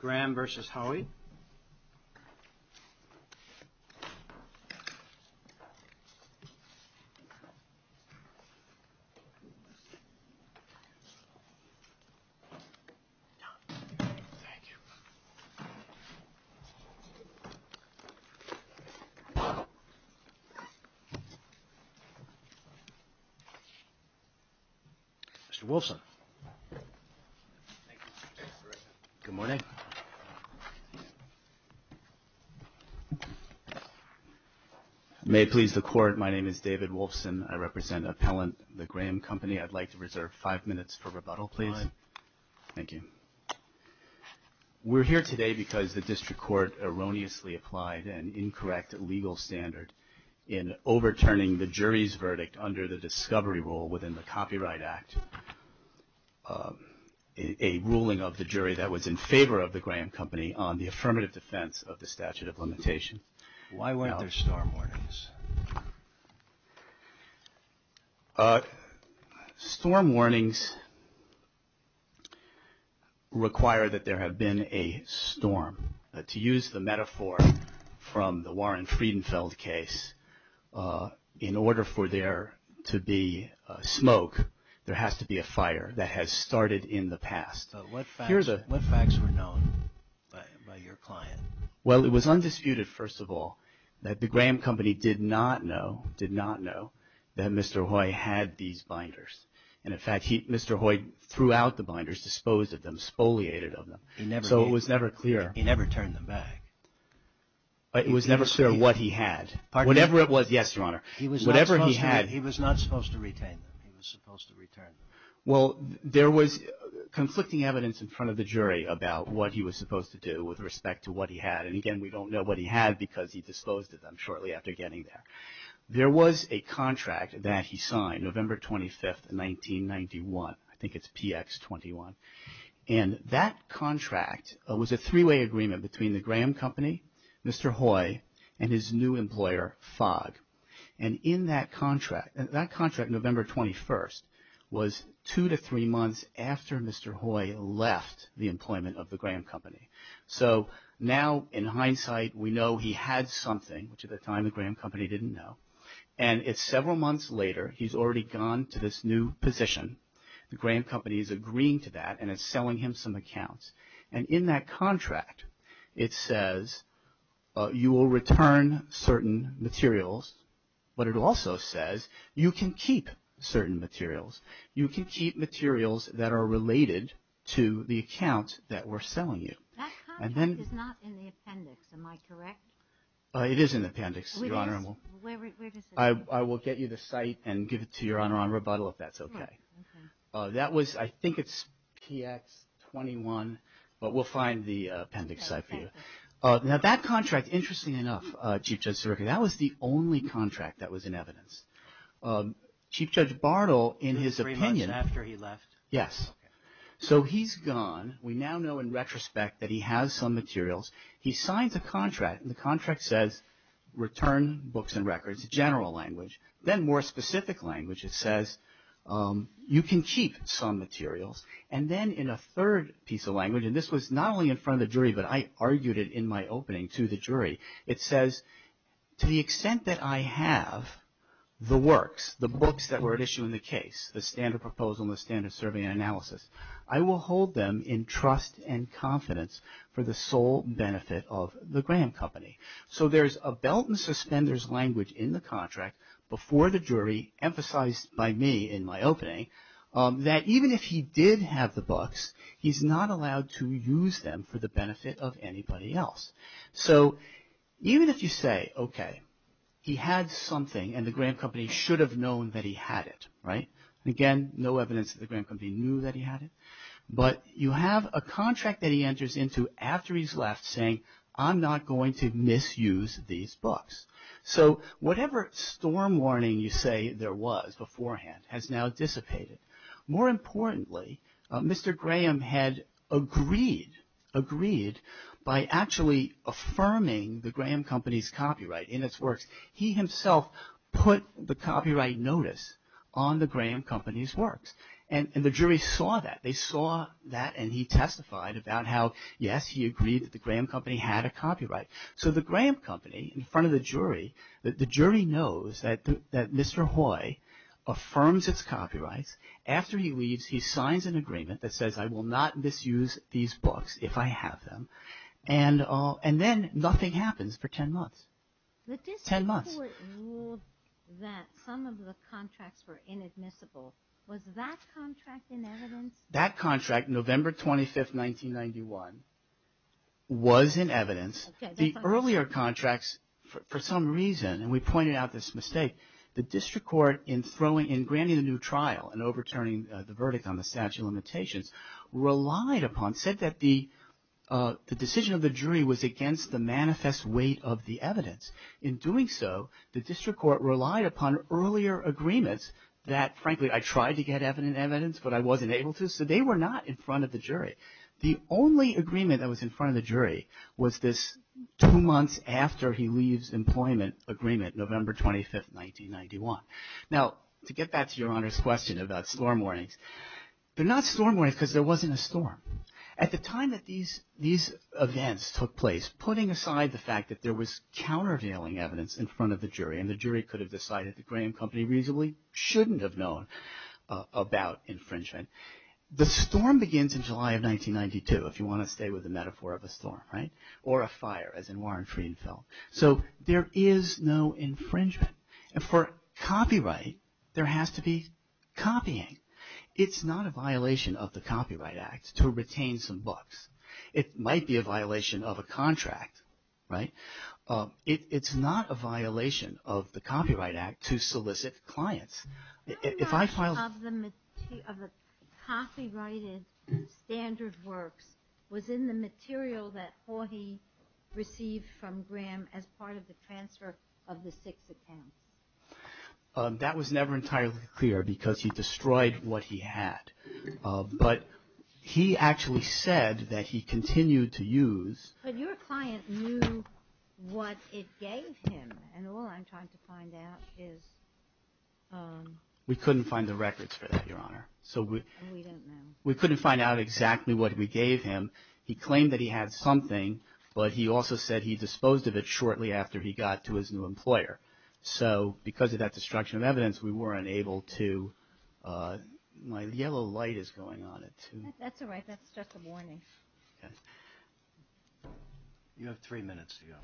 Graham versus Haughey. Mr. Wilson. Good morning. May it please the court, my name is David Wolfson. I represent Appellant the Graham Company. I'd like to reserve five minutes for rebuttal, please. All right. Thank you. We're here today because the district court erroneously applied an incorrect legal standard in overturning the jury's verdict under the discovery rule within the Copyright Act, a ruling of the jury that was in favor of the Graham Company on the affirmative defense of the statute of limitation. Why weren't there storm warnings? Storm warnings require that there have been a storm. To use the metaphor from the Warren Friedenfeld case, in order for there to be smoke, there has to be a fire that has started in the past. What facts were known by your client? Well, it was undisputed, first of all, that the Graham Company did not know, did not know, that Mr. Haughey had these binders. And in fact, Mr. Haughey threw out the binders, disposed of them, spoliated of them. So it was never clear. He never turned them back. It was never clear what he had. Whatever it was, yes, Your Honor. He was not supposed to retain them. He was supposed to return them. Well, there was conflicting evidence in front of the jury about what he was supposed to do with respect to what he had. And again, we don't know what he had because he disposed of them shortly after getting there. There was a contract that he signed, November 25th, 1991. I think it's PX21. And that contract was a three-way agreement between the Graham Company, Mr. Hoy, and his new employer, Fogg. And in that contract, that contract, November 21st, was two to three months after Mr. Hoy left the employment of the Graham Company. So now, in hindsight, we know he had something, which at the time the Graham Company didn't know. And it's several months later, he's already gone to this new position. The Graham Company is agreeing to that and is selling him some accounts. And in that contract, it says you will return certain materials, but it also says you can keep certain materials. You can keep materials that are related to the accounts that we're selling you. That contract is not in the appendix, am I correct? It is in the appendix, Your Honor. Where is it? I will get you the site and give it to Your Honor on rebuttal if that's okay. Okay. That was, I think it's PX-21, but we'll find the appendix site for you. Now, that contract, interestingly enough, Chief Judge Sirica, that was the only contract that was in evidence. Chief Judge Bartle, in his opinion- Three months after he left? Yes. So he's gone. We now know, in retrospect, that he has some materials. He signs a contract, and the contract says return books and records, general language. Then more specific language, it says you can keep some materials. And then in a third piece of language, and this was not only in front of the jury, but I argued it in my opening to the jury, it says to the extent that I have the works, the books that were at issue in the case, the standard proposal and the standard survey and analysis, I will hold them in trust and confidence for the sole benefit of the Graham Company. So there's a belt and suspenders language in the contract before the jury, emphasized by me in my opening, that even if he did have the books, he's not allowed to use them for the benefit of anybody else. So even if you say, okay, he had something, and the Graham Company should have known that he had it, right? Again, no evidence that the Graham Company knew that he had it. But you have a contract that he enters into after he's left saying, I'm not going to misuse these books. So whatever storm warning you say there was beforehand has now dissipated. More importantly, Mr. Graham had agreed, agreed by actually affirming the Graham Company's copyright in its works. He himself put the copyright notice on the Graham Company's works. And the jury saw that. They saw that and he testified about how, yes, he agreed that the Graham Company had a copyright. So the Graham Company in front of the jury, the jury knows that Mr. Hoy affirms its copyrights. After he leaves, he signs an agreement that says, I will not misuse these books if I have them. And then nothing happens for 10 months. Ten months. The district court ruled that some of the contracts were inadmissible. Was that contract in evidence? That contract, November 25th, 1991, was in evidence. The earlier contracts, for some reason, and we pointed out this mistake, the district court in granting the new trial and overturning the verdict on the statute of limitations relied upon, said that the decision of the jury was against the manifest weight of the evidence. In doing so, the district court relied upon earlier agreements that, frankly, I tried to get evidence, but I wasn't able to. So they were not in front of the jury. The only agreement that was in front of the jury was this two months after he leaves employment agreement, November 25th, 1991. Now, to get back to Your Honor's question about storm warnings, they're not storm warnings because there wasn't a storm. At the time that these events took place, putting aside the fact that there was countervailing evidence in front of the jury, and the jury could have decided that Graham Company reasonably shouldn't have known about infringement, the storm begins in July of 1992, if you want to stay with the metaphor of a storm, right? Or a fire, as in Warren Frieden felt. So there is no infringement. And for copyright, there has to be copying. It's not a violation of the Copyright Act to retain some books. It might be a violation of a contract, right? It's not a violation of the Copyright Act to solicit clients. If I filed... How much of the copyrighted standard works was in the material that Hawhey received from Graham as part of the transfer of the six accounts? That was never entirely clear because he destroyed what he had. But he actually said that he continued to use... But your client knew what it gave him. And all I'm trying to find out is... We couldn't find the records for that, Your Honor. So we... We don't know. We couldn't find out exactly what we gave him. He claimed that he had something, but he also said he disposed of it shortly after he got to his new employer. So because of that destruction of evidence, we weren't able to... My yellow light is going on at 2. That's all right. That's just a warning. Okay. You have three minutes to go.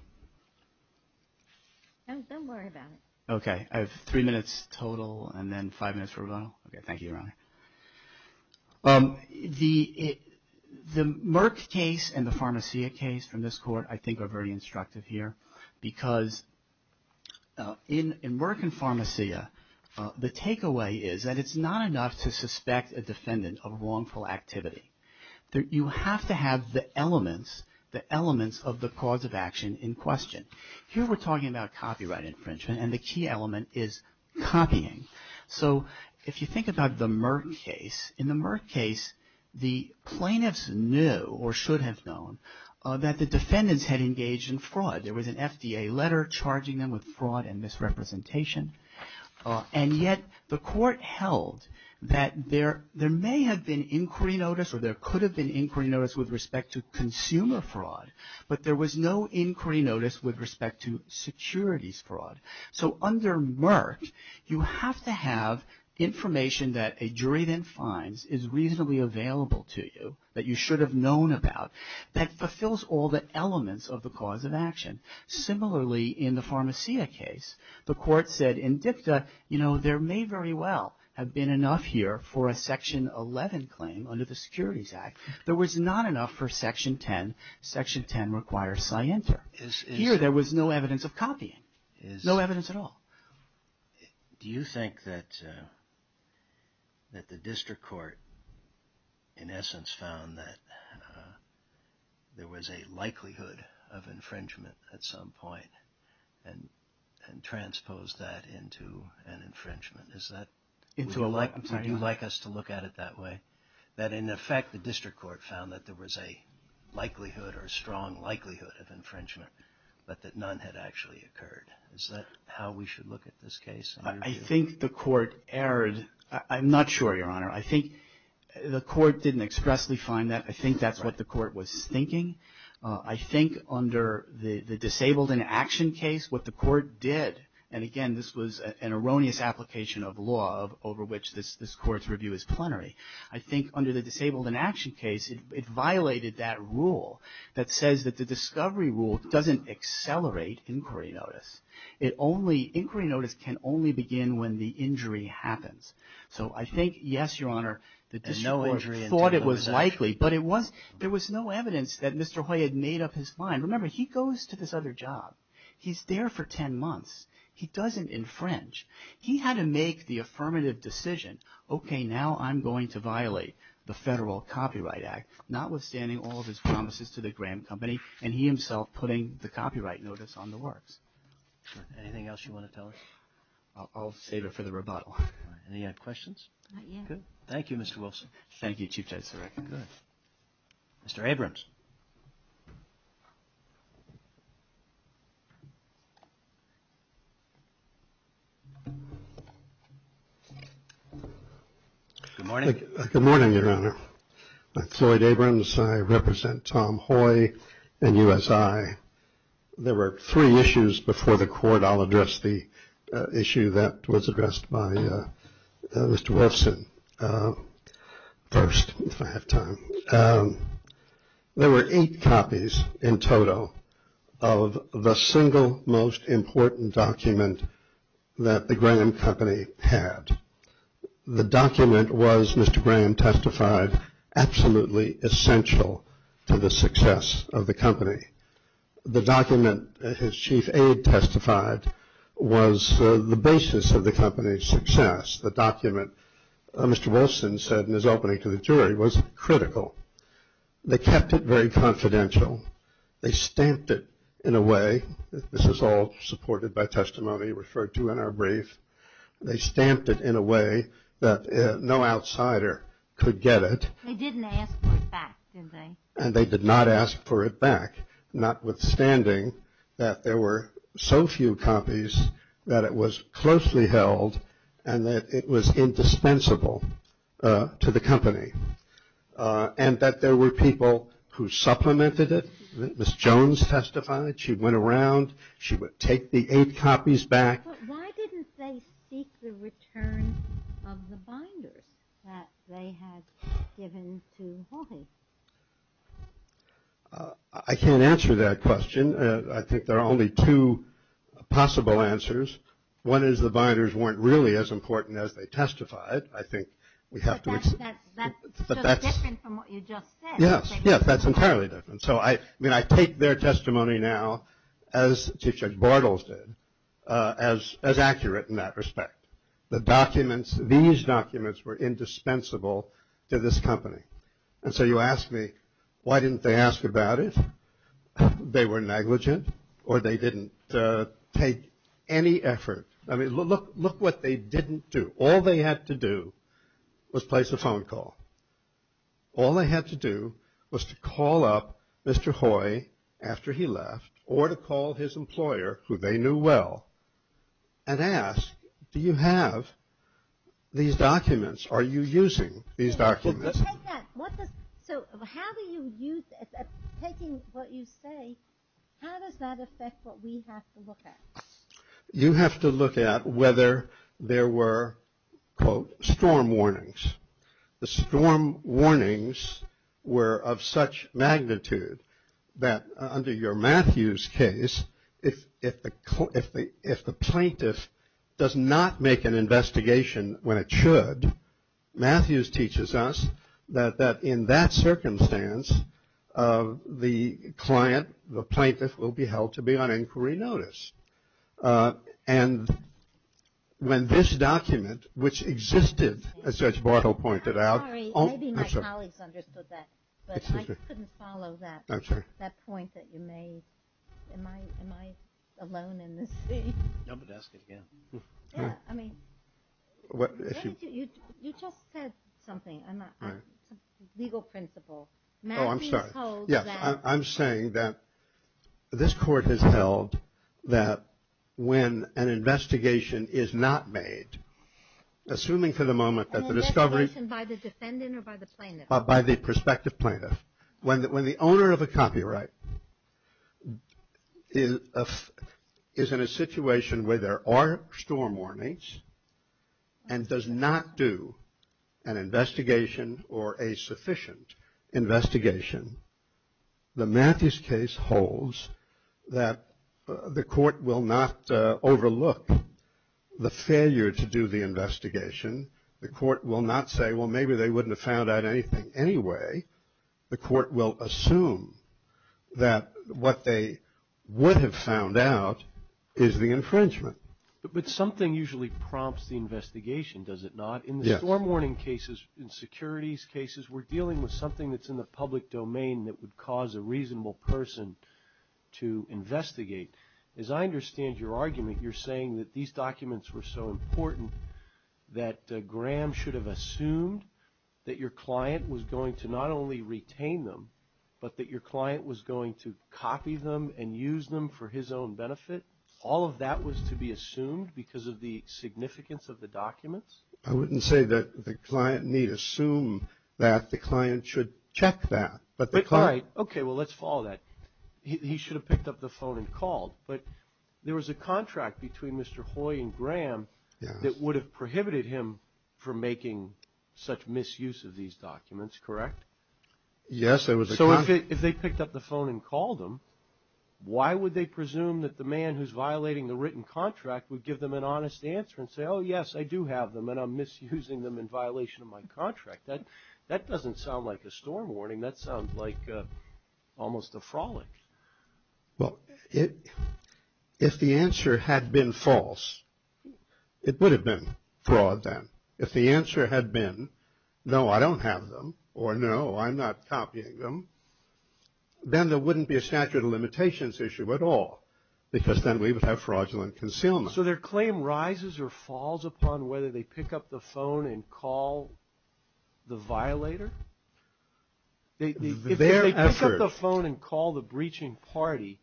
Don't worry about it. Okay. I have three minutes total and then five minutes for rebuttal. Okay. Thank you, Your Honor. The Merck case and the Pharmacia case from this court I think are very instructive here because in Merck and Pharmacia the takeaway is that it's not enough to suspect a defendant of wrongful activity. You have to have the elements, the elements of the cause of action in question. Here we're talking about copyright infringement and the key element is copying. So if you think about the Merck case, in the Merck case the plaintiffs knew or should have known that the defendants had engaged in fraud. There was an FDA letter charging them with fraud and misrepresentation. And yet the court held that there may have been inquiry notice or there could have been inquiry notice with respect to consumer fraud, but there was no inquiry notice with respect to securities fraud. So under Merck you have to have information that a jury then finds is reasonably available to you, that you should have known about, that fulfills all the elements of the cause of action. Similarly, in the Pharmacia case, the court said in dicta, you know, there may very well have been enough here for a Section 11 claim under the Securities Act. There was not enough for Section 10. Section 10 requires scienter. Here there was no evidence of copying, no evidence at all. Do you think that the district court in essence found that there was a likelihood of infringement at some point and transposed that into an infringement? Would you like us to look at it that way? That in effect the district court found that there was a likelihood or a strong likelihood of infringement, but that none had actually occurred. Is that how we should look at this case? I think the court erred. I'm not sure, Your Honor. I think the court didn't expressly find that. I think that's what the court was thinking. I think under the Disabled in Action case what the court did, and again this was an erroneous application of law over which this court's review is plenary. I think under the Disabled in Action case it violated that rule that says that the discovery rule doesn't accelerate inquiry notice. Inquiry notice can only begin when the injury happens. So I think, yes, Your Honor, the district court thought it was likely, but there was no evidence that Mr. Hoy had made up his mind. Remember, he goes to this other job. He's there for 10 months. He doesn't infringe. He had to make the affirmative decision. Okay, now I'm going to violate the Federal Copyright Act, notwithstanding all of his promises to the Graham Company and he himself putting the copyright notice on the works. Anything else you want to tell us? I'll save it for the rebuttal. Any other questions? Not yet. Good. Thank you, Mr. Wilson. Thank you, Chief Justice O'Rourke. Good. Mr. Abrams. Good morning. Good morning, Your Honor. I'm Floyd Abrams. I represent Tom Hoy and USI. There were three issues before the court. I'll address the issue that was addressed by Mr. Wilson first, if I have time. There were eight copies in total of the single most important document that the Graham Company had. The document was, Mr. Graham testified, absolutely essential to the success of the company. The document, as Chief Aide testified, was the basis of the company's success. The document, Mr. Wilson said in his opening to the jury, was critical. They kept it very confidential. They stamped it in a way. This is all supported by testimony referred to in our brief. They stamped it in a way that no outsider could get it. They didn't ask for it back, did they? And they did not ask for it back, notwithstanding that there were so few copies that it was closely held and that it was indispensable to the company, and that there were people who supplemented it. Ms. Jones testified. She went around. She would take the eight copies back. But why didn't they seek the return of the binders that they had given to Hawking? I can't answer that question. I think there are only two possible answers. One is the binders weren't really as important as they testified. I think we have to accept that. But that's different from what you just said. Yes. Yes, that's entirely different. So, I mean, I take their testimony now, as Chief Judge Bartles did, as accurate in that respect. The documents, these documents were indispensable to this company. And so you ask me, why didn't they ask about it? They were negligent or they didn't take any effort. I mean, look what they didn't do. All they had to do was place a phone call. All they had to do was to call up Mr. Hoy after he left or to call his employer, who they knew well, and ask, do you have these documents? Are you using these documents? So how do you use it? Taking what you say, how does that affect what we have to look at? You have to look at whether there were, quote, storm warnings. The storm warnings were of such magnitude that under your Matthews case, if the plaintiff does not make an investigation when it should, Matthews teaches us that in that circumstance, the client, the plaintiff, will be held to be on inquiry notice. And when this document, which existed, as Judge Bartle pointed out. I'm sorry. Maybe my colleagues understood that, but I couldn't follow that. I'm sorry. That point that you made. Am I alone in this thing? You'll have to ask it again. Yeah. I mean, you just said something. I'm not, it's a legal principle. Oh, I'm sorry. I'm saying that this court has held that when an investigation is not made, assuming for the moment that the discovery. By the defendant or by the plaintiff? By the prospective plaintiff. When the owner of a copyright is in a situation where there are storm warnings and does not do an investigation or a sufficient investigation, the Matthews case holds that the court will not overlook the failure to do the investigation. The court will not say, well, maybe they wouldn't have found out anything anyway. The court will assume that what they would have found out is the infringement. But something usually prompts the investigation, does it not? Yes. In the storm warning cases, in securities cases, we're dealing with something that's in the public domain that would cause a reasonable person to investigate. As I understand your argument, you're saying that these documents were so important that Graham should have assumed that your client was going to not only retain them, but that your client was going to copy them and use them for his own benefit? All of that was to be assumed because of the significance of the documents? I wouldn't say that the client need assume that. The client should check that. All right. Okay. Well, let's follow that. He should have picked up the phone and called. But there was a contract between Mr. Hoy and Graham that would have prohibited him from making such misuse of these documents, correct? Yes, there was a contract. If they picked up the phone and called him, why would they presume that the man who's violating the written contract would give them an honest answer and say, oh, yes, I do have them and I'm misusing them in violation of my contract? That doesn't sound like a storm warning. That sounds like almost a frolic. Well, if the answer had been false, it would have been fraud then. If the answer had been, no, I don't have them, or no, I'm not copying them, then there wouldn't be a statute of limitations issue at all because then we would have fraudulent concealment. So their claim rises or falls upon whether they pick up the phone and call the violator? If they pick up the phone and call the breaching party,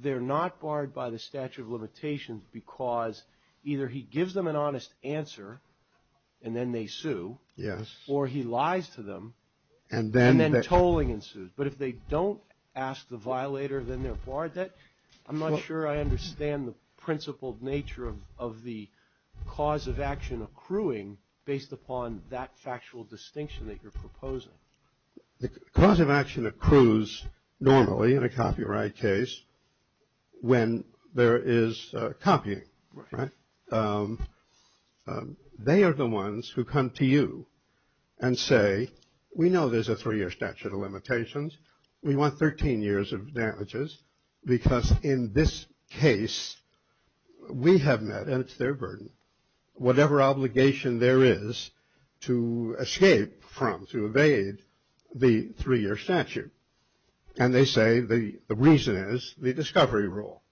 they're not barred by the statute of limitations because either he gives them an honest answer and then they sue. Yes. Or he lies to them and then tolling ensues. But if they don't ask the violator, then they're barred. I'm not sure I understand the principled nature of the cause of action accruing based upon that factual distinction that you're proposing. The cause of action accrues normally in a copyright case when there is copying, right? They are the ones who come to you and say, we know there's a three-year statute of limitations. We want 13 years of damages because in this case we have met, and it's their burden, whatever obligation there is to escape from, to evade the three-year statute. And they say the reason is the discovery rule.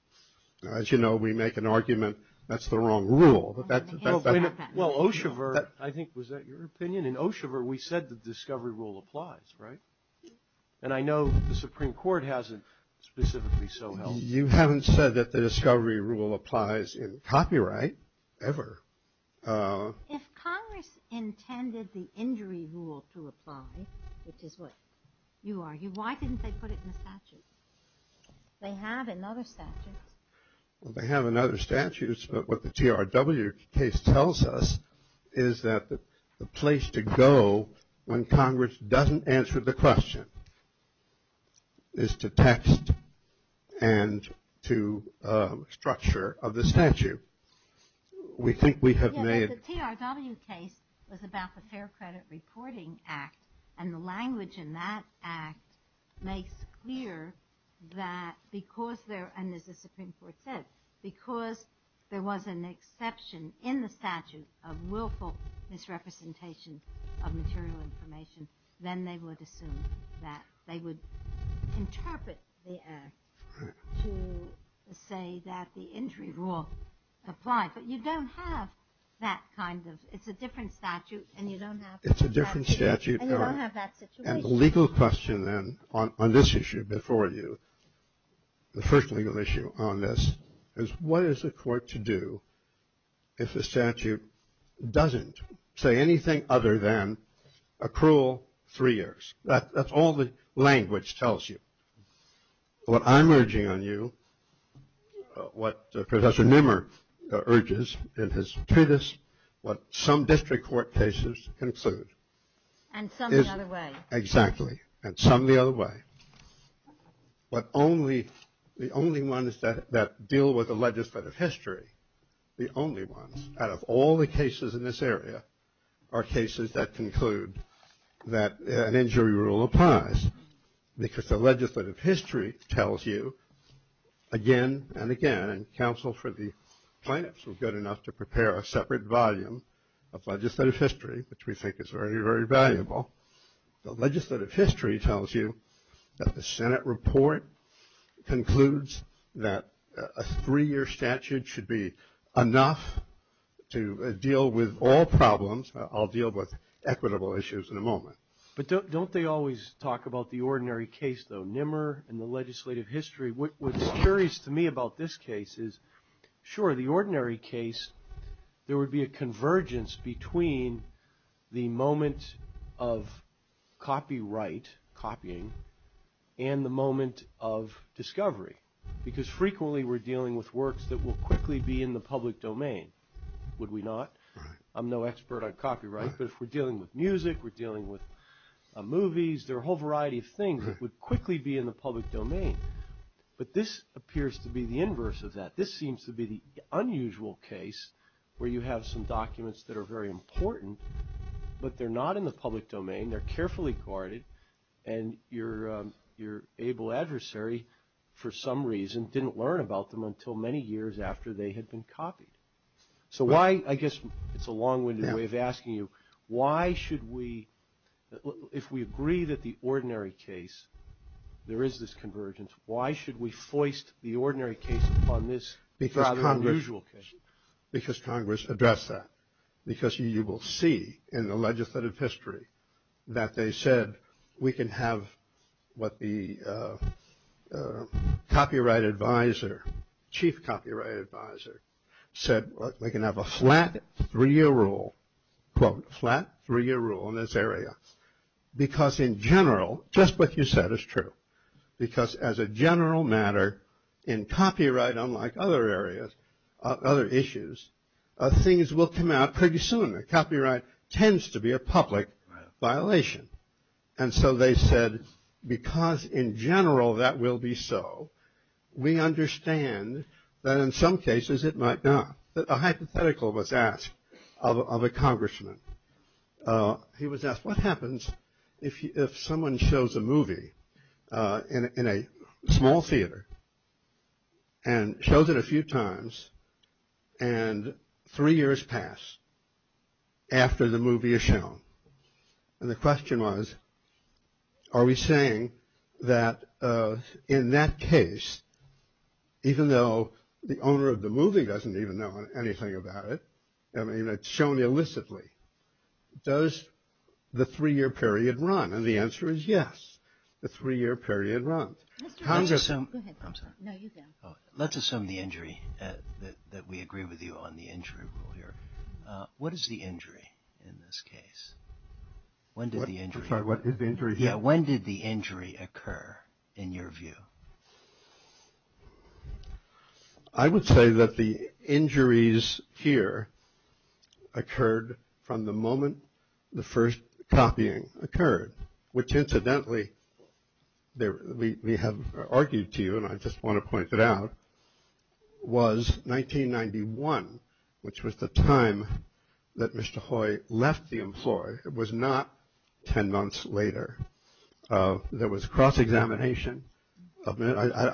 As you know, we make an argument that's the wrong rule. Well, Oshever, I think, was that your opinion? In Oshever, we said the discovery rule applies, right? And I know the Supreme Court hasn't specifically so held. You haven't said that the discovery rule applies in copyright, ever. If Congress intended the injury rule to apply, which is what you argue, why didn't they put it in the statute? They have in other statutes. They have in other statutes, but what the TRW case tells us is that the place to go when Congress doesn't answer the question is to text and to structure of the statute. We think we have made... Yes, the TRW case was about the Fair Credit Reporting Act, and the language in that act makes clear that because there, and as the Supreme Court said, because there was an exception in the statute of willful misrepresentation of material information, then they would assume that they would interpret the act to say that the injury rule applied. But you don't have that kind of... It's a different statute, and you don't have... It's a different statute. And you don't have that situation. The legal question then on this issue before you, the first legal issue on this, is what is the court to do if the statute doesn't say anything other than accrual three years? That's all the language tells you. What I'm urging on you, what Professor Nimmer urges in his treatise, what some district court cases conclude... And some the other way. Exactly. And some the other way. But the only ones that deal with the legislative history, the only ones, out of all the cases in this area are cases that conclude that an injury rule applies, because the legislative history tells you again and again, and counsel for the plaintiffs were good enough to prepare a separate volume of legislative history, which we think is very, very valuable. The legislative history tells you that the Senate report concludes that a three-year statute should be enough to deal with all problems. I'll deal with equitable issues in a moment. But don't they always talk about the ordinary case, though, Nimmer and the legislative history? What's curious to me about this case is, sure, the ordinary case, there would be a convergence between the moment of copyright copying and the moment of discovery, because frequently we're dealing with works that will quickly be in the public domain, would we not? I'm no expert on copyright, but if we're dealing with music, we're dealing with movies, there are a whole variety of things that would quickly be in the public domain. But this appears to be the inverse of that. This seems to be the unusual case where you have some documents that are very important, but they're not in the public domain, they're carefully guarded, and your able adversary for some reason didn't learn about them until many years after they had been copied. So why, I guess it's a long-winded way of asking you, why should we, if we agree that the ordinary case, there is this convergence, why should we foist the ordinary case upon this rather unusual case? Because Congress addressed that. Because you will see in the legislative history that they said we can have what the copyright advisor, chief copyright advisor, said we can have a flat three-year rule, quote, flat three-year rule in this area. Because in general, just what you said is true. Because as a general matter, in copyright, unlike other areas, other issues, things will come out pretty soon. Copyright tends to be a public violation. And so they said because in general that will be so, we understand that in some cases it might not. A hypothetical was asked of a congressman. He was asked what happens if someone shows a movie in a small theater and shows it a few times and three years pass after the movie is shown. And the question was, are we saying that in that case, even though the owner of the movie doesn't even know anything about it, I mean, it's shown illicitly, does the three-year period run? And the answer is yes, the three-year period runs. Go ahead. No, you go. Let's assume the injury, that we agree with you on the injury rule here. What is the injury in this case? When did the injury occur in your view? I would say that the injuries here occurred from the moment the first copying occurred, which incidentally, we have argued to you and I just want to point it out, was 1991, which was the time that Mr. Hoy left the employer. It was not ten months later. There was cross-examination. I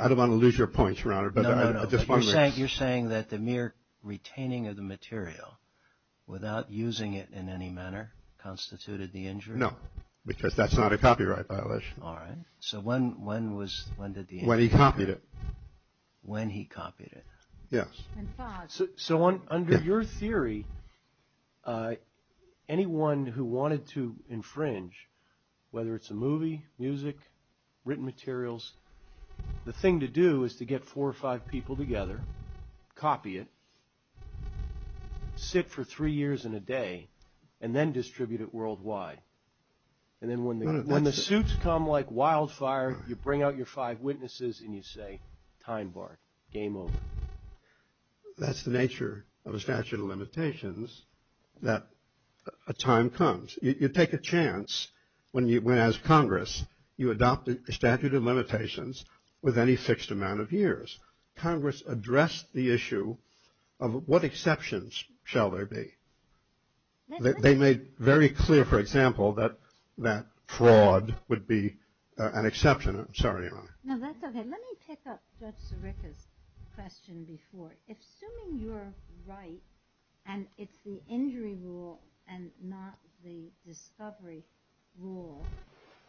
don't want to lose your points, Your Honor. No, no, no. You're saying that the mere retaining of the material without using it in any manner constituted the injury? No, because that's not a copyright violation. All right. So when did the injury occur? When he copied it. When he copied it. Yes. So under your theory, anyone who wanted to infringe, whether it's a movie, music, written materials, the thing to do is to get four or five people together, copy it, sit for three years and a day, and then distribute it worldwide. And then when the suits come like wildfire, you bring out your five witnesses and you say, time barred, game over. That's the nature of a statute of limitations, that a time comes. You take a chance when, as Congress, you adopt a statute of limitations with any fixed amount of years. Congress addressed the issue of what exceptions shall there be. They made very clear, for example, that fraud would be an exception. I'm sorry, Your Honor. No, that's okay. Let me pick up Judge Ziricca's question before. Assuming you're right and it's the injury rule and not the discovery rule,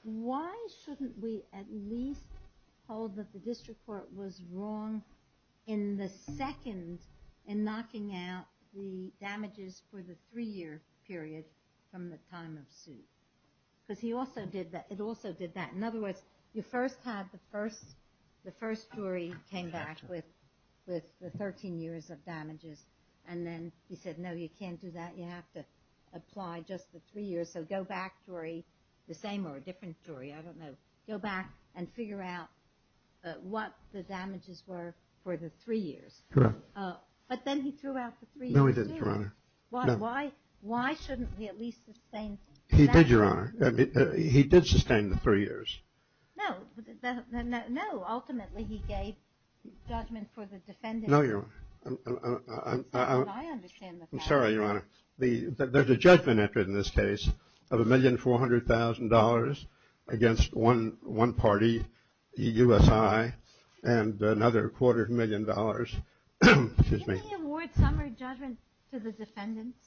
why shouldn't we at least hold that the district court was wrong in the second in knocking out the damages for the three-year period from the time of suit? Because he also did that. It also did that. In other words, you first had the first jury came back with the 13 years of damages, and then he said, no, you can't do that. You have to apply just the three years. So go back, Jury, the same or a different jury. I don't know. Go back and figure out what the damages were for the three years. Correct. But then he threw out the three years, too. No, he didn't, Your Honor. Why shouldn't we at least sustain that? He did, Your Honor. He did sustain the three years. No. No. Ultimately, he gave judgment for the defendant. No, Your Honor. I understand the fact. I'm sorry, Your Honor. There's a judgment entered in this case of $1,400,000 against one party, the U.S.I., and another quarter of a million dollars. Excuse me. Didn't he award summary judgment to the defendants?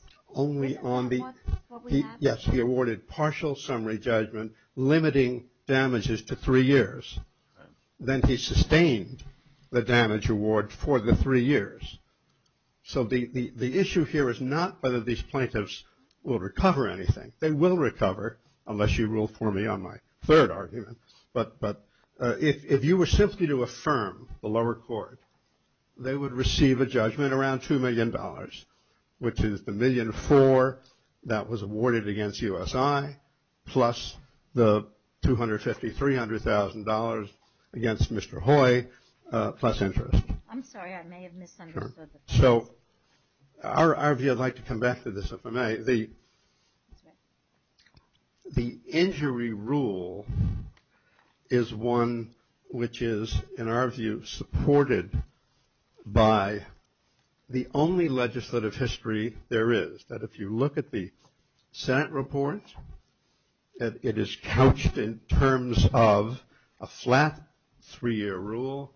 Yes, he awarded partial summary judgment limiting damages to three years. Then he sustained the damage award for the three years. So the issue here is not whether these plaintiffs will recover anything. They will recover, unless you rule for me on my third argument. But if you were simply to affirm the lower court, they would receive a judgment around $2 million, which is the $1.4 million that was awarded against U.S.I., plus the $250,000, $300,000 against Mr. Hoy, plus interest. I'm sorry. I may have misunderstood. So our view, I'd like to come back to this if I may. The injury rule is one which is, in our view, supported by the only legislative history there is, that if you look at the Senate report, it is couched in terms of a flat three-year rule,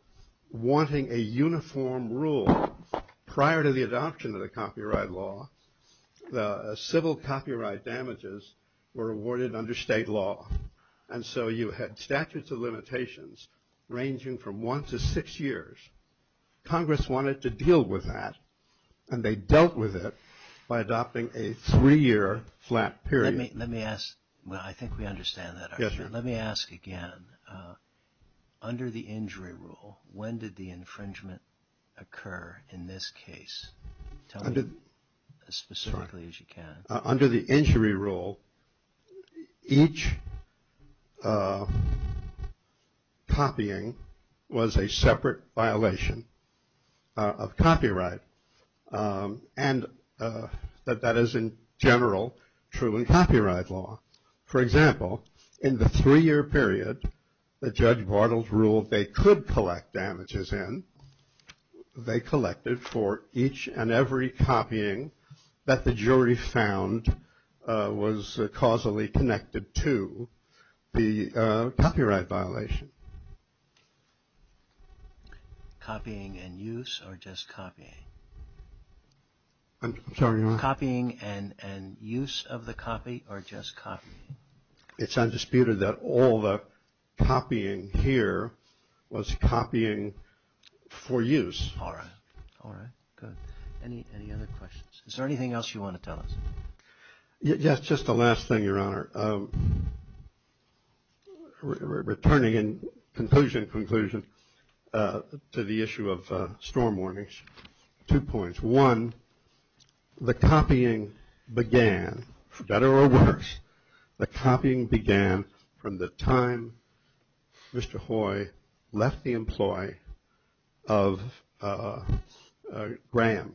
wanting a uniform rule prior to the adoption of the copyright law. The civil copyright damages were awarded under state law. And so you had statutes of limitations ranging from one to six years. Congress wanted to deal with that, and they dealt with it by adopting a three-year flat period. Let me ask. Well, I think we understand that, actually. Let me ask again. Under the injury rule, when did the infringement occur in this case? Tell me as specifically as you can. Under the injury rule, each copying was a separate violation of copyright. And that is, in general, true in copyright law. For example, in the three-year period that Judge Bartels ruled they could collect damages in, they collected for each and every copying that the jury found was causally connected to the copyright violation. Copying and use or just copying? I'm sorry, Your Honor? Copying and use of the copy or just copying? It's undisputed that all the copying here was copying for use. All right. All right. Good. Any other questions? Is there anything else you want to tell us? Yes, just the last thing, Your Honor. Returning in conclusion to the issue of storm warnings, two points. One, the copying began, for better or worse, the copying began from the time Mr. Hoy left the employ of Graham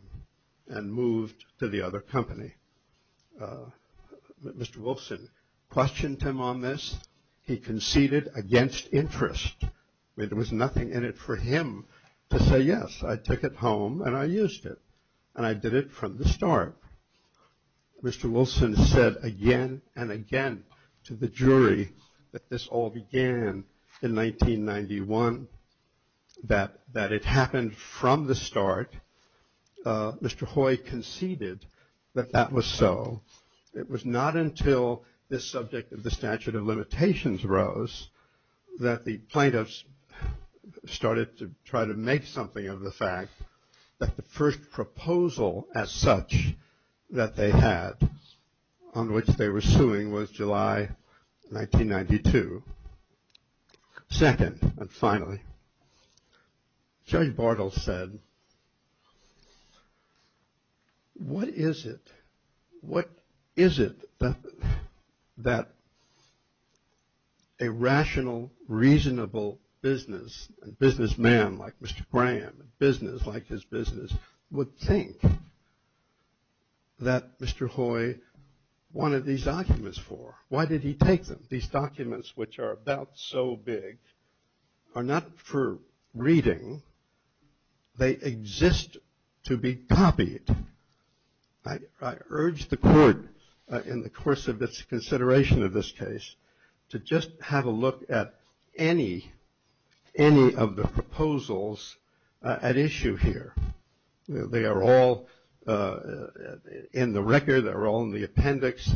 and moved to the other company. Mr. Wilson questioned him on this. He conceded against interest. There was nothing in it for him to say, yes, I took it home and I used it. And I did it from the start. Mr. Wilson said again and again to the jury that this all began in 1991, that it happened from the start. Mr. Hoy conceded that that was so. It was not until this subject of the statute of limitations rose that the plaintiffs started to try to make something of the fact that the first proposal as such that they had on which they were suing was July 1992. Second, and finally, Judge Bartle said, what is it, what is it that a rational, reasonable business, a businessman like Mr. Graham, a business like his business, would think that Mr. Hoy wanted these documents for? Why did he take them? These documents, which are about so big, are not for reading. They exist to be copied. I urge the court in the course of its consideration of this case to just have a look at any of the proposals at issue here. They are all in the record. They're all in the appendix.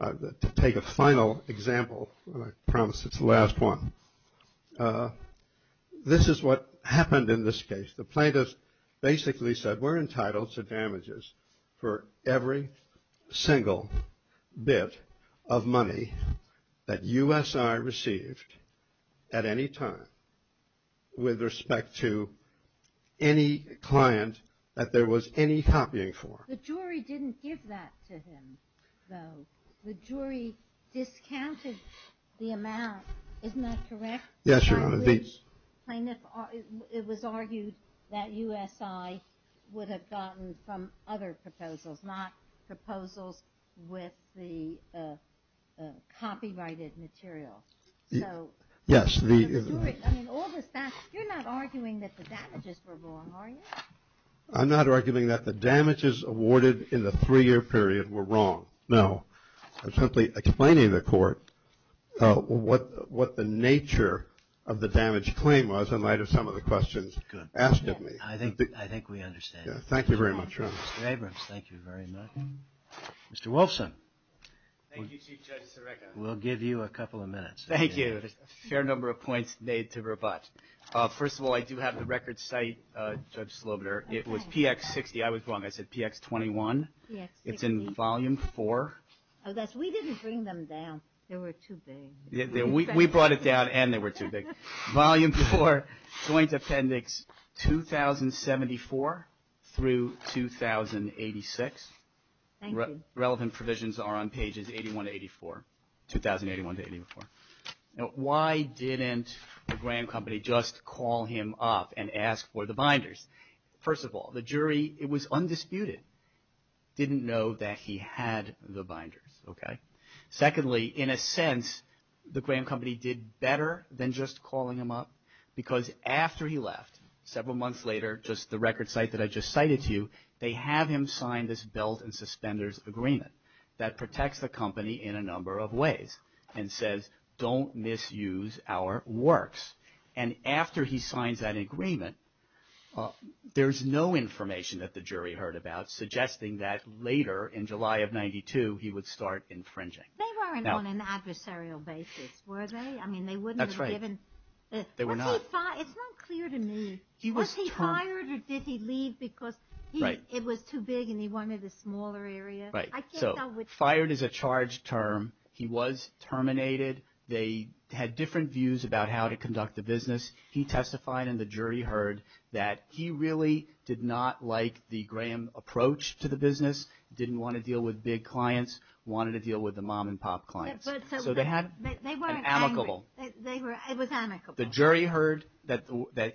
To take a final example, and I promise it's the last one, this is what happened in this case. The plaintiff basically said we're entitled to damages for every single bit of money that USI received at any time with respect to any client that there was any copying for. The jury didn't give that to him, though. The jury discounted the amount. Isn't that correct? Yes, Your Honor. It was argued that USI would have gotten from other proposals, not proposals with the copyrighted material. Yes. You're not arguing that the damages were wrong, are you? I'm not arguing that the damages awarded in the three-year period were wrong, no. I'm simply explaining to the court what the nature of the damage claim was in light of some of the questions asked of me. Good. I think we understand. Thank you very much, Your Honor. Mr. Abrams, thank you very much. Mr. Wolfson. Thank you, Chief Judge Sareka. We'll give you a couple of minutes. Thank you. A fair number of points made to rebut. First of all, I do have the record site, Judge Slobiter. It was PX60. I was wrong. I said PX21. Yes. It's in Volume 4. Oh, yes. We didn't bring them down. They were too big. We brought it down, and they were too big. Volume 4, Joint Appendix 2074 through 2086. Thank you. Relevant provisions are on pages 81 to 84, 2081 to 84. Now, why didn't the Graham Company just call him up and ask for the binders? First of all, the jury, it was undisputed, didn't know that he had the binders, okay? Secondly, in a sense, the Graham Company did better than just calling him up, because after he left, several months later, just the record site that I just cited to you, they have him sign this belt and suspenders agreement that protects the company in a number of ways and says, don't misuse our works. And after he signs that agreement, there's no information that the jury heard about suggesting that later, in July of 92, he would start infringing. They weren't on an adversarial basis, were they? I mean, they wouldn't have given. That's right. They were not. It's not clear to me. Was he fired or did he leave because it was too big and he wanted a smaller area? Right. So fired is a charged term. He was terminated. They had different views about how to conduct the business. He testified and the jury heard that he really did not like the Graham approach to the business, didn't want to deal with big clients, wanted to deal with the mom and pop clients. So they had an amicable. It was amicable. The jury heard that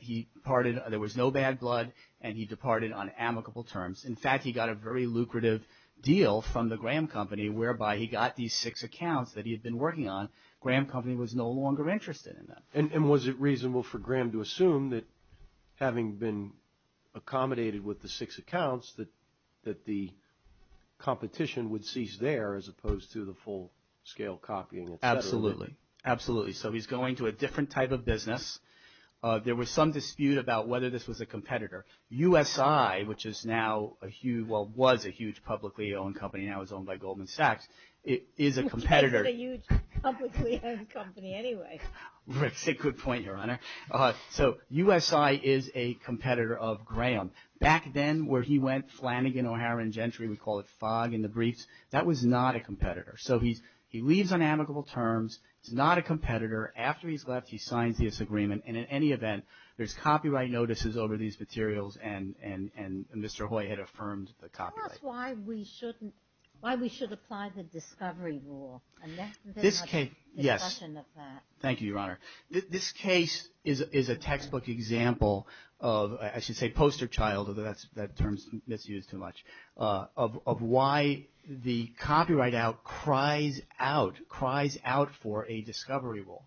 he departed, there was no bad blood, and he departed on amicable terms. In fact, he got a very lucrative deal from the Graham Company, whereby he got these six accounts that he had been working on. Graham Company was no longer interested in them. And was it reasonable for Graham to assume that having been accommodated with the six accounts, that the competition would cease there as opposed to the full-scale copying? Absolutely. Absolutely. So he's going to a different type of business. There was some dispute about whether this was a competitor. U.S.I., which is now a huge, well, was a huge publicly owned company, now is owned by Goldman Sachs, is a competitor. It's a huge publicly owned company anyway. That's a good point, Your Honor. So U.S.I. is a competitor of Graham. Back then where he went, Flanagan, O'Hara, and Gentry, we call it fog in the briefs, that was not a competitor. So he leaves on amicable terms. He's not a competitor. After he's left, he signs this agreement. And in any event, there's copyright notices over these materials, and Mr. Hoy had affirmed the copyright. Tell us why we should apply the discovery rule. Yes. Thank you, Your Honor. This case is a textbook example of, I should say poster child, although that term is misused too much, of why the copyright out cries out, cries out for a discovery rule.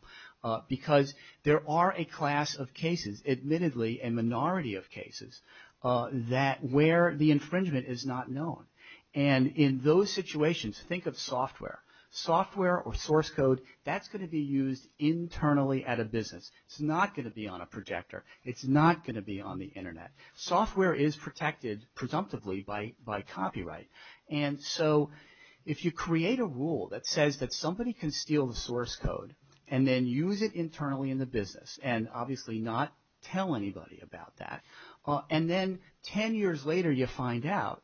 Because there are a class of cases, admittedly a minority of cases, that where the infringement is not known. And in those situations, think of software. Software or source code, that's going to be used internally at a business. It's not going to be on a projector. It's not going to be on the Internet. Software is protected, presumptively, by copyright. And so, if you create a rule that says that somebody can steal the source code, and then use it internally in the business, and obviously not tell anybody about that, and then ten years later you find out,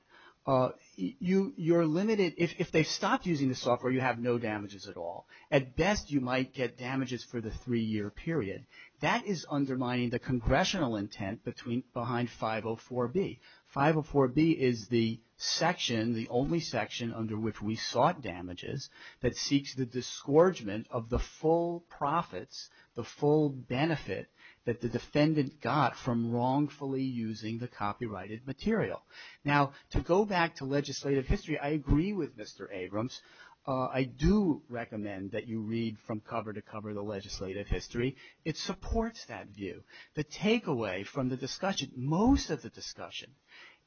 you're limited. If they stopped using the software, you have no damages at all. At best, you might get damages for the three-year period. That is undermining the congressional intent behind 504B. 504B is the section, the only section under which we sought damages, that seeks the disgorgement of the full profits, the full benefit, that the defendant got from wrongfully using the copyrighted material. Now, to go back to legislative history, I agree with Mr. Abrams. I do recommend that you read from cover to cover the legislative history. It supports that view. The takeaway from the discussion, most of the discussion,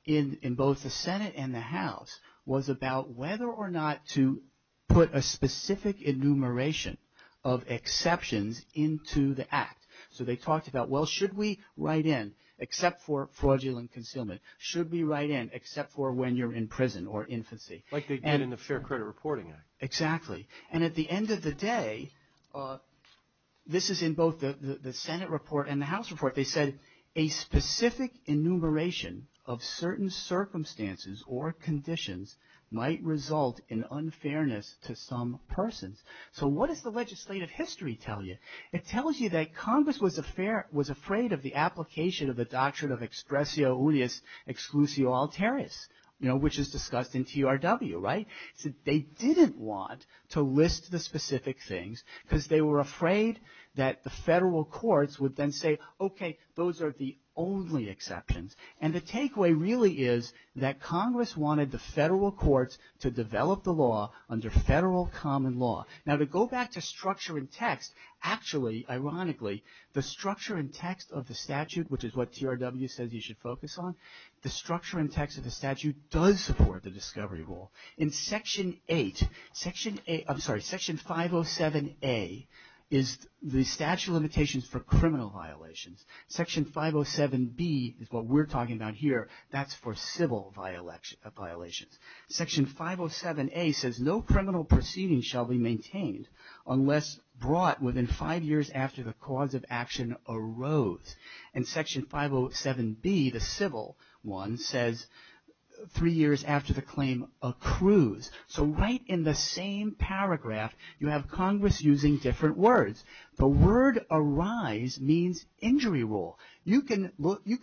in both the Senate and the House, was about whether or not to put a specific enumeration of exceptions into the Act. So they talked about, well, should we write in, except for fraudulent concealment, should we write in except for when you're in prison or infancy. Like they did in the Fair Credit Reporting Act. Exactly. And at the end of the day, this is in both the Senate report and the House report, they said a specific enumeration of certain circumstances or conditions might result in unfairness to some persons. So what does the legislative history tell you? It tells you that Congress was afraid of the application of the doctrine of expressio unius exclusio alterius, you know, which is discussed in TRW, right? They didn't want to list the specific things because they were afraid that the federal courts would then say, okay, those are the only exceptions. And the takeaway really is that Congress wanted the federal courts to develop the law under federal common law. Now to go back to structure and text, actually, ironically, the structure and text of the statute, which is what TRW says you should focus on, the structure and text of the statute does support the discovery rule. In Section 8, I'm sorry, Section 507A is the statute of limitations for criminal violations. Section 507B is what we're talking about here. That's for civil violations. Section 507A says no criminal proceedings shall be maintained unless brought within five years after the cause of action arose. And Section 507B, the civil one, says three years after the claim accrues. So right in the same paragraph, you have Congress using different words. The word arise means injury rule. You can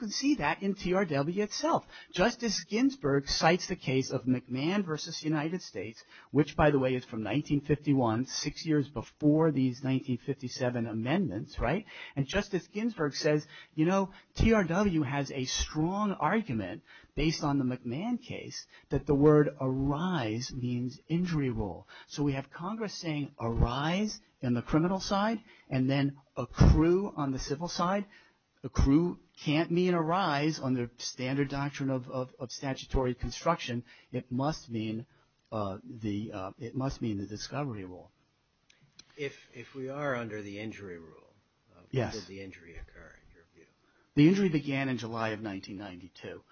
see that in TRW itself. Justice Ginsburg cites the case of McMahon v. United States, which, by the way, is from 1951, six years before these 1957 amendments, right? And Justice Ginsburg says, you know, TRW has a strong argument based on the McMahon case that the word arise means injury rule. So we have Congress saying arise on the criminal side and then accrue on the civil side. Accrue can't mean arise under standard doctrine of statutory construction. It must mean the discovery rule. If we are under the injury rule, how does the injury occur in your view? The injury began in July of 1992.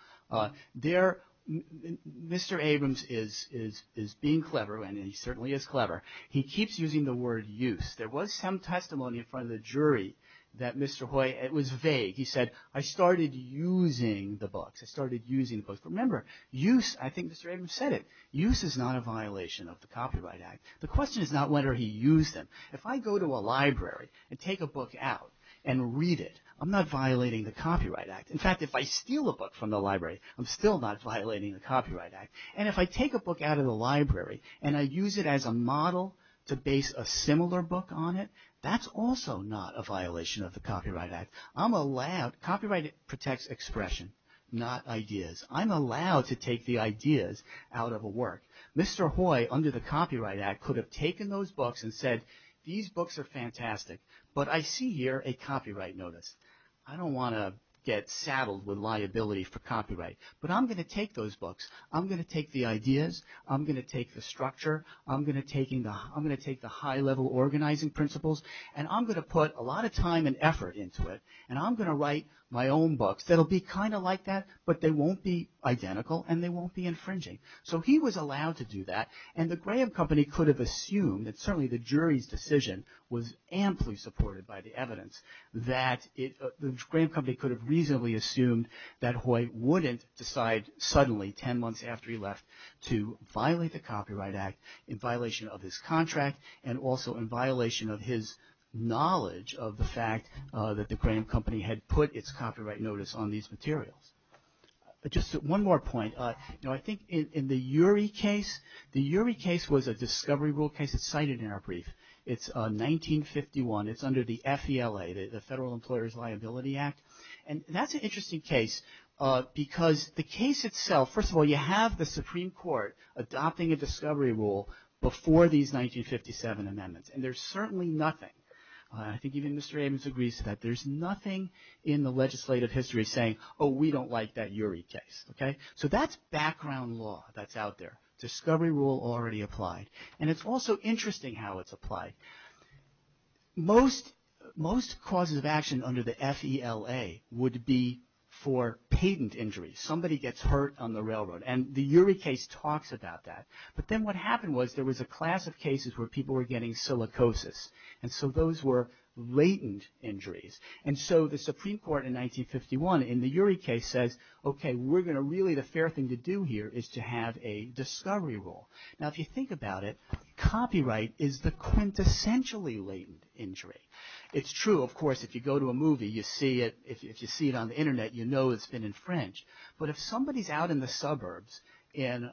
Mr. Abrams is being clever, and he certainly is clever. He keeps using the word use. There was some testimony in front of the jury that Mr. Hoy, it was vague. He said, I started using the books. I started using the books. Remember, use, I think Mr. Abrams said it, use is not a violation of the Copyright Act. The question is not whether he used them. If I go to a library and take a book out and read it, I'm not violating the Copyright Act. In fact, if I steal a book from the library, I'm still not violating the Copyright Act. And if I take a book out of the library and I use it as a model to base a similar book on it, that's also not a violation of the Copyright Act. I'm allowed, copyright protects expression, not ideas. I'm allowed to take the ideas out of a work. Mr. Hoy, under the Copyright Act, could have taken those books and said, these books are fantastic, but I see here a copyright notice. I don't want to get saddled with liability for copyright, but I'm going to take those books. I'm going to take the ideas. I'm going to take the structure. I'm going to take the high-level organizing principles, and I'm going to put a lot of time and effort into it, and I'm going to write my own books that will be kind of like that, but they won't be identical, and they won't be infringing. So he was allowed to do that, and the Graham Company could have assumed, and certainly the jury's decision was amply supported by the evidence, that the Graham Company could have reasonably assumed that Hoy wouldn't decide suddenly, 10 months after he left, to violate the Copyright Act in violation of his contract and also in violation of his knowledge of the fact that the Graham Company had put its copyright notice on these materials. Just one more point. You know, I think in the Urey case, the Urey case was a discovery rule case. It's cited in our brief. It's 1951. It's under the FELA, the Federal Employer's Liability Act, and that's an interesting case because the case itself, first of all, you have the Supreme Court adopting a discovery rule before these 1957 amendments, and there's certainly nothing. I think even Mr. Adams agrees to that. There's nothing in the legislative history saying, oh, we don't like that Urey case, okay? So that's background law that's out there. Discovery rule already applied, and it's also interesting how it's applied. Most causes of action under the FELA would be for patent injuries. Somebody gets hurt on the railroad, and the Urey case talks about that, but then what happened was there was a class of cases where people were getting silicosis, and so those were latent injuries. And so the Supreme Court in 1951 in the Urey case says, okay, we're going to really, the fair thing to do here is to have a discovery rule. Now, if you think about it, copyright is the quintessentially latent injury. It's true, of course, if you go to a movie, you see it. If you see it on the Internet, you know it's been infringed. But if somebody's out in the suburbs in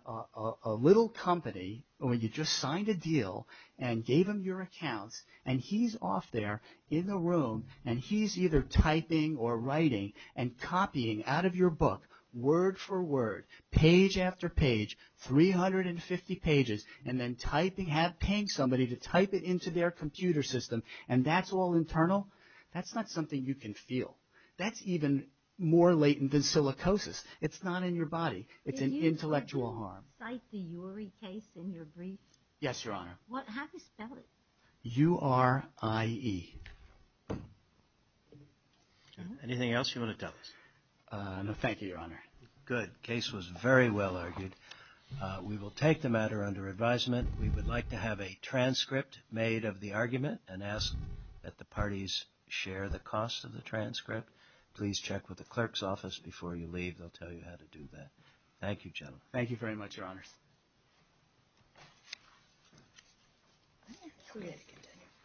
a little company, or you just signed a deal and gave them your accounts, and he's off there in the room, and he's either typing or writing and copying out of your book word for word, page after page, 350 pages, and then typing, paying somebody to type it into their computer system, and that's all internal, that's not something you can feel. That's even more latent than silicosis. It's not in your body. It's an intellectual harm. Can you cite the Urey case in your brief? Yes, Your Honor. How do you spell it? U-R-I-E. Anything else you want to tell us? No, thank you, Your Honor. Good. The case was very well argued. We will take the matter under advisement. We would like to have a transcript made of the argument and ask that the parties share the cost of the transcript. Please check with the clerk's office before you leave. They'll tell you how to do that. Thank you, gentlemen. Thank you very much, Your Honors.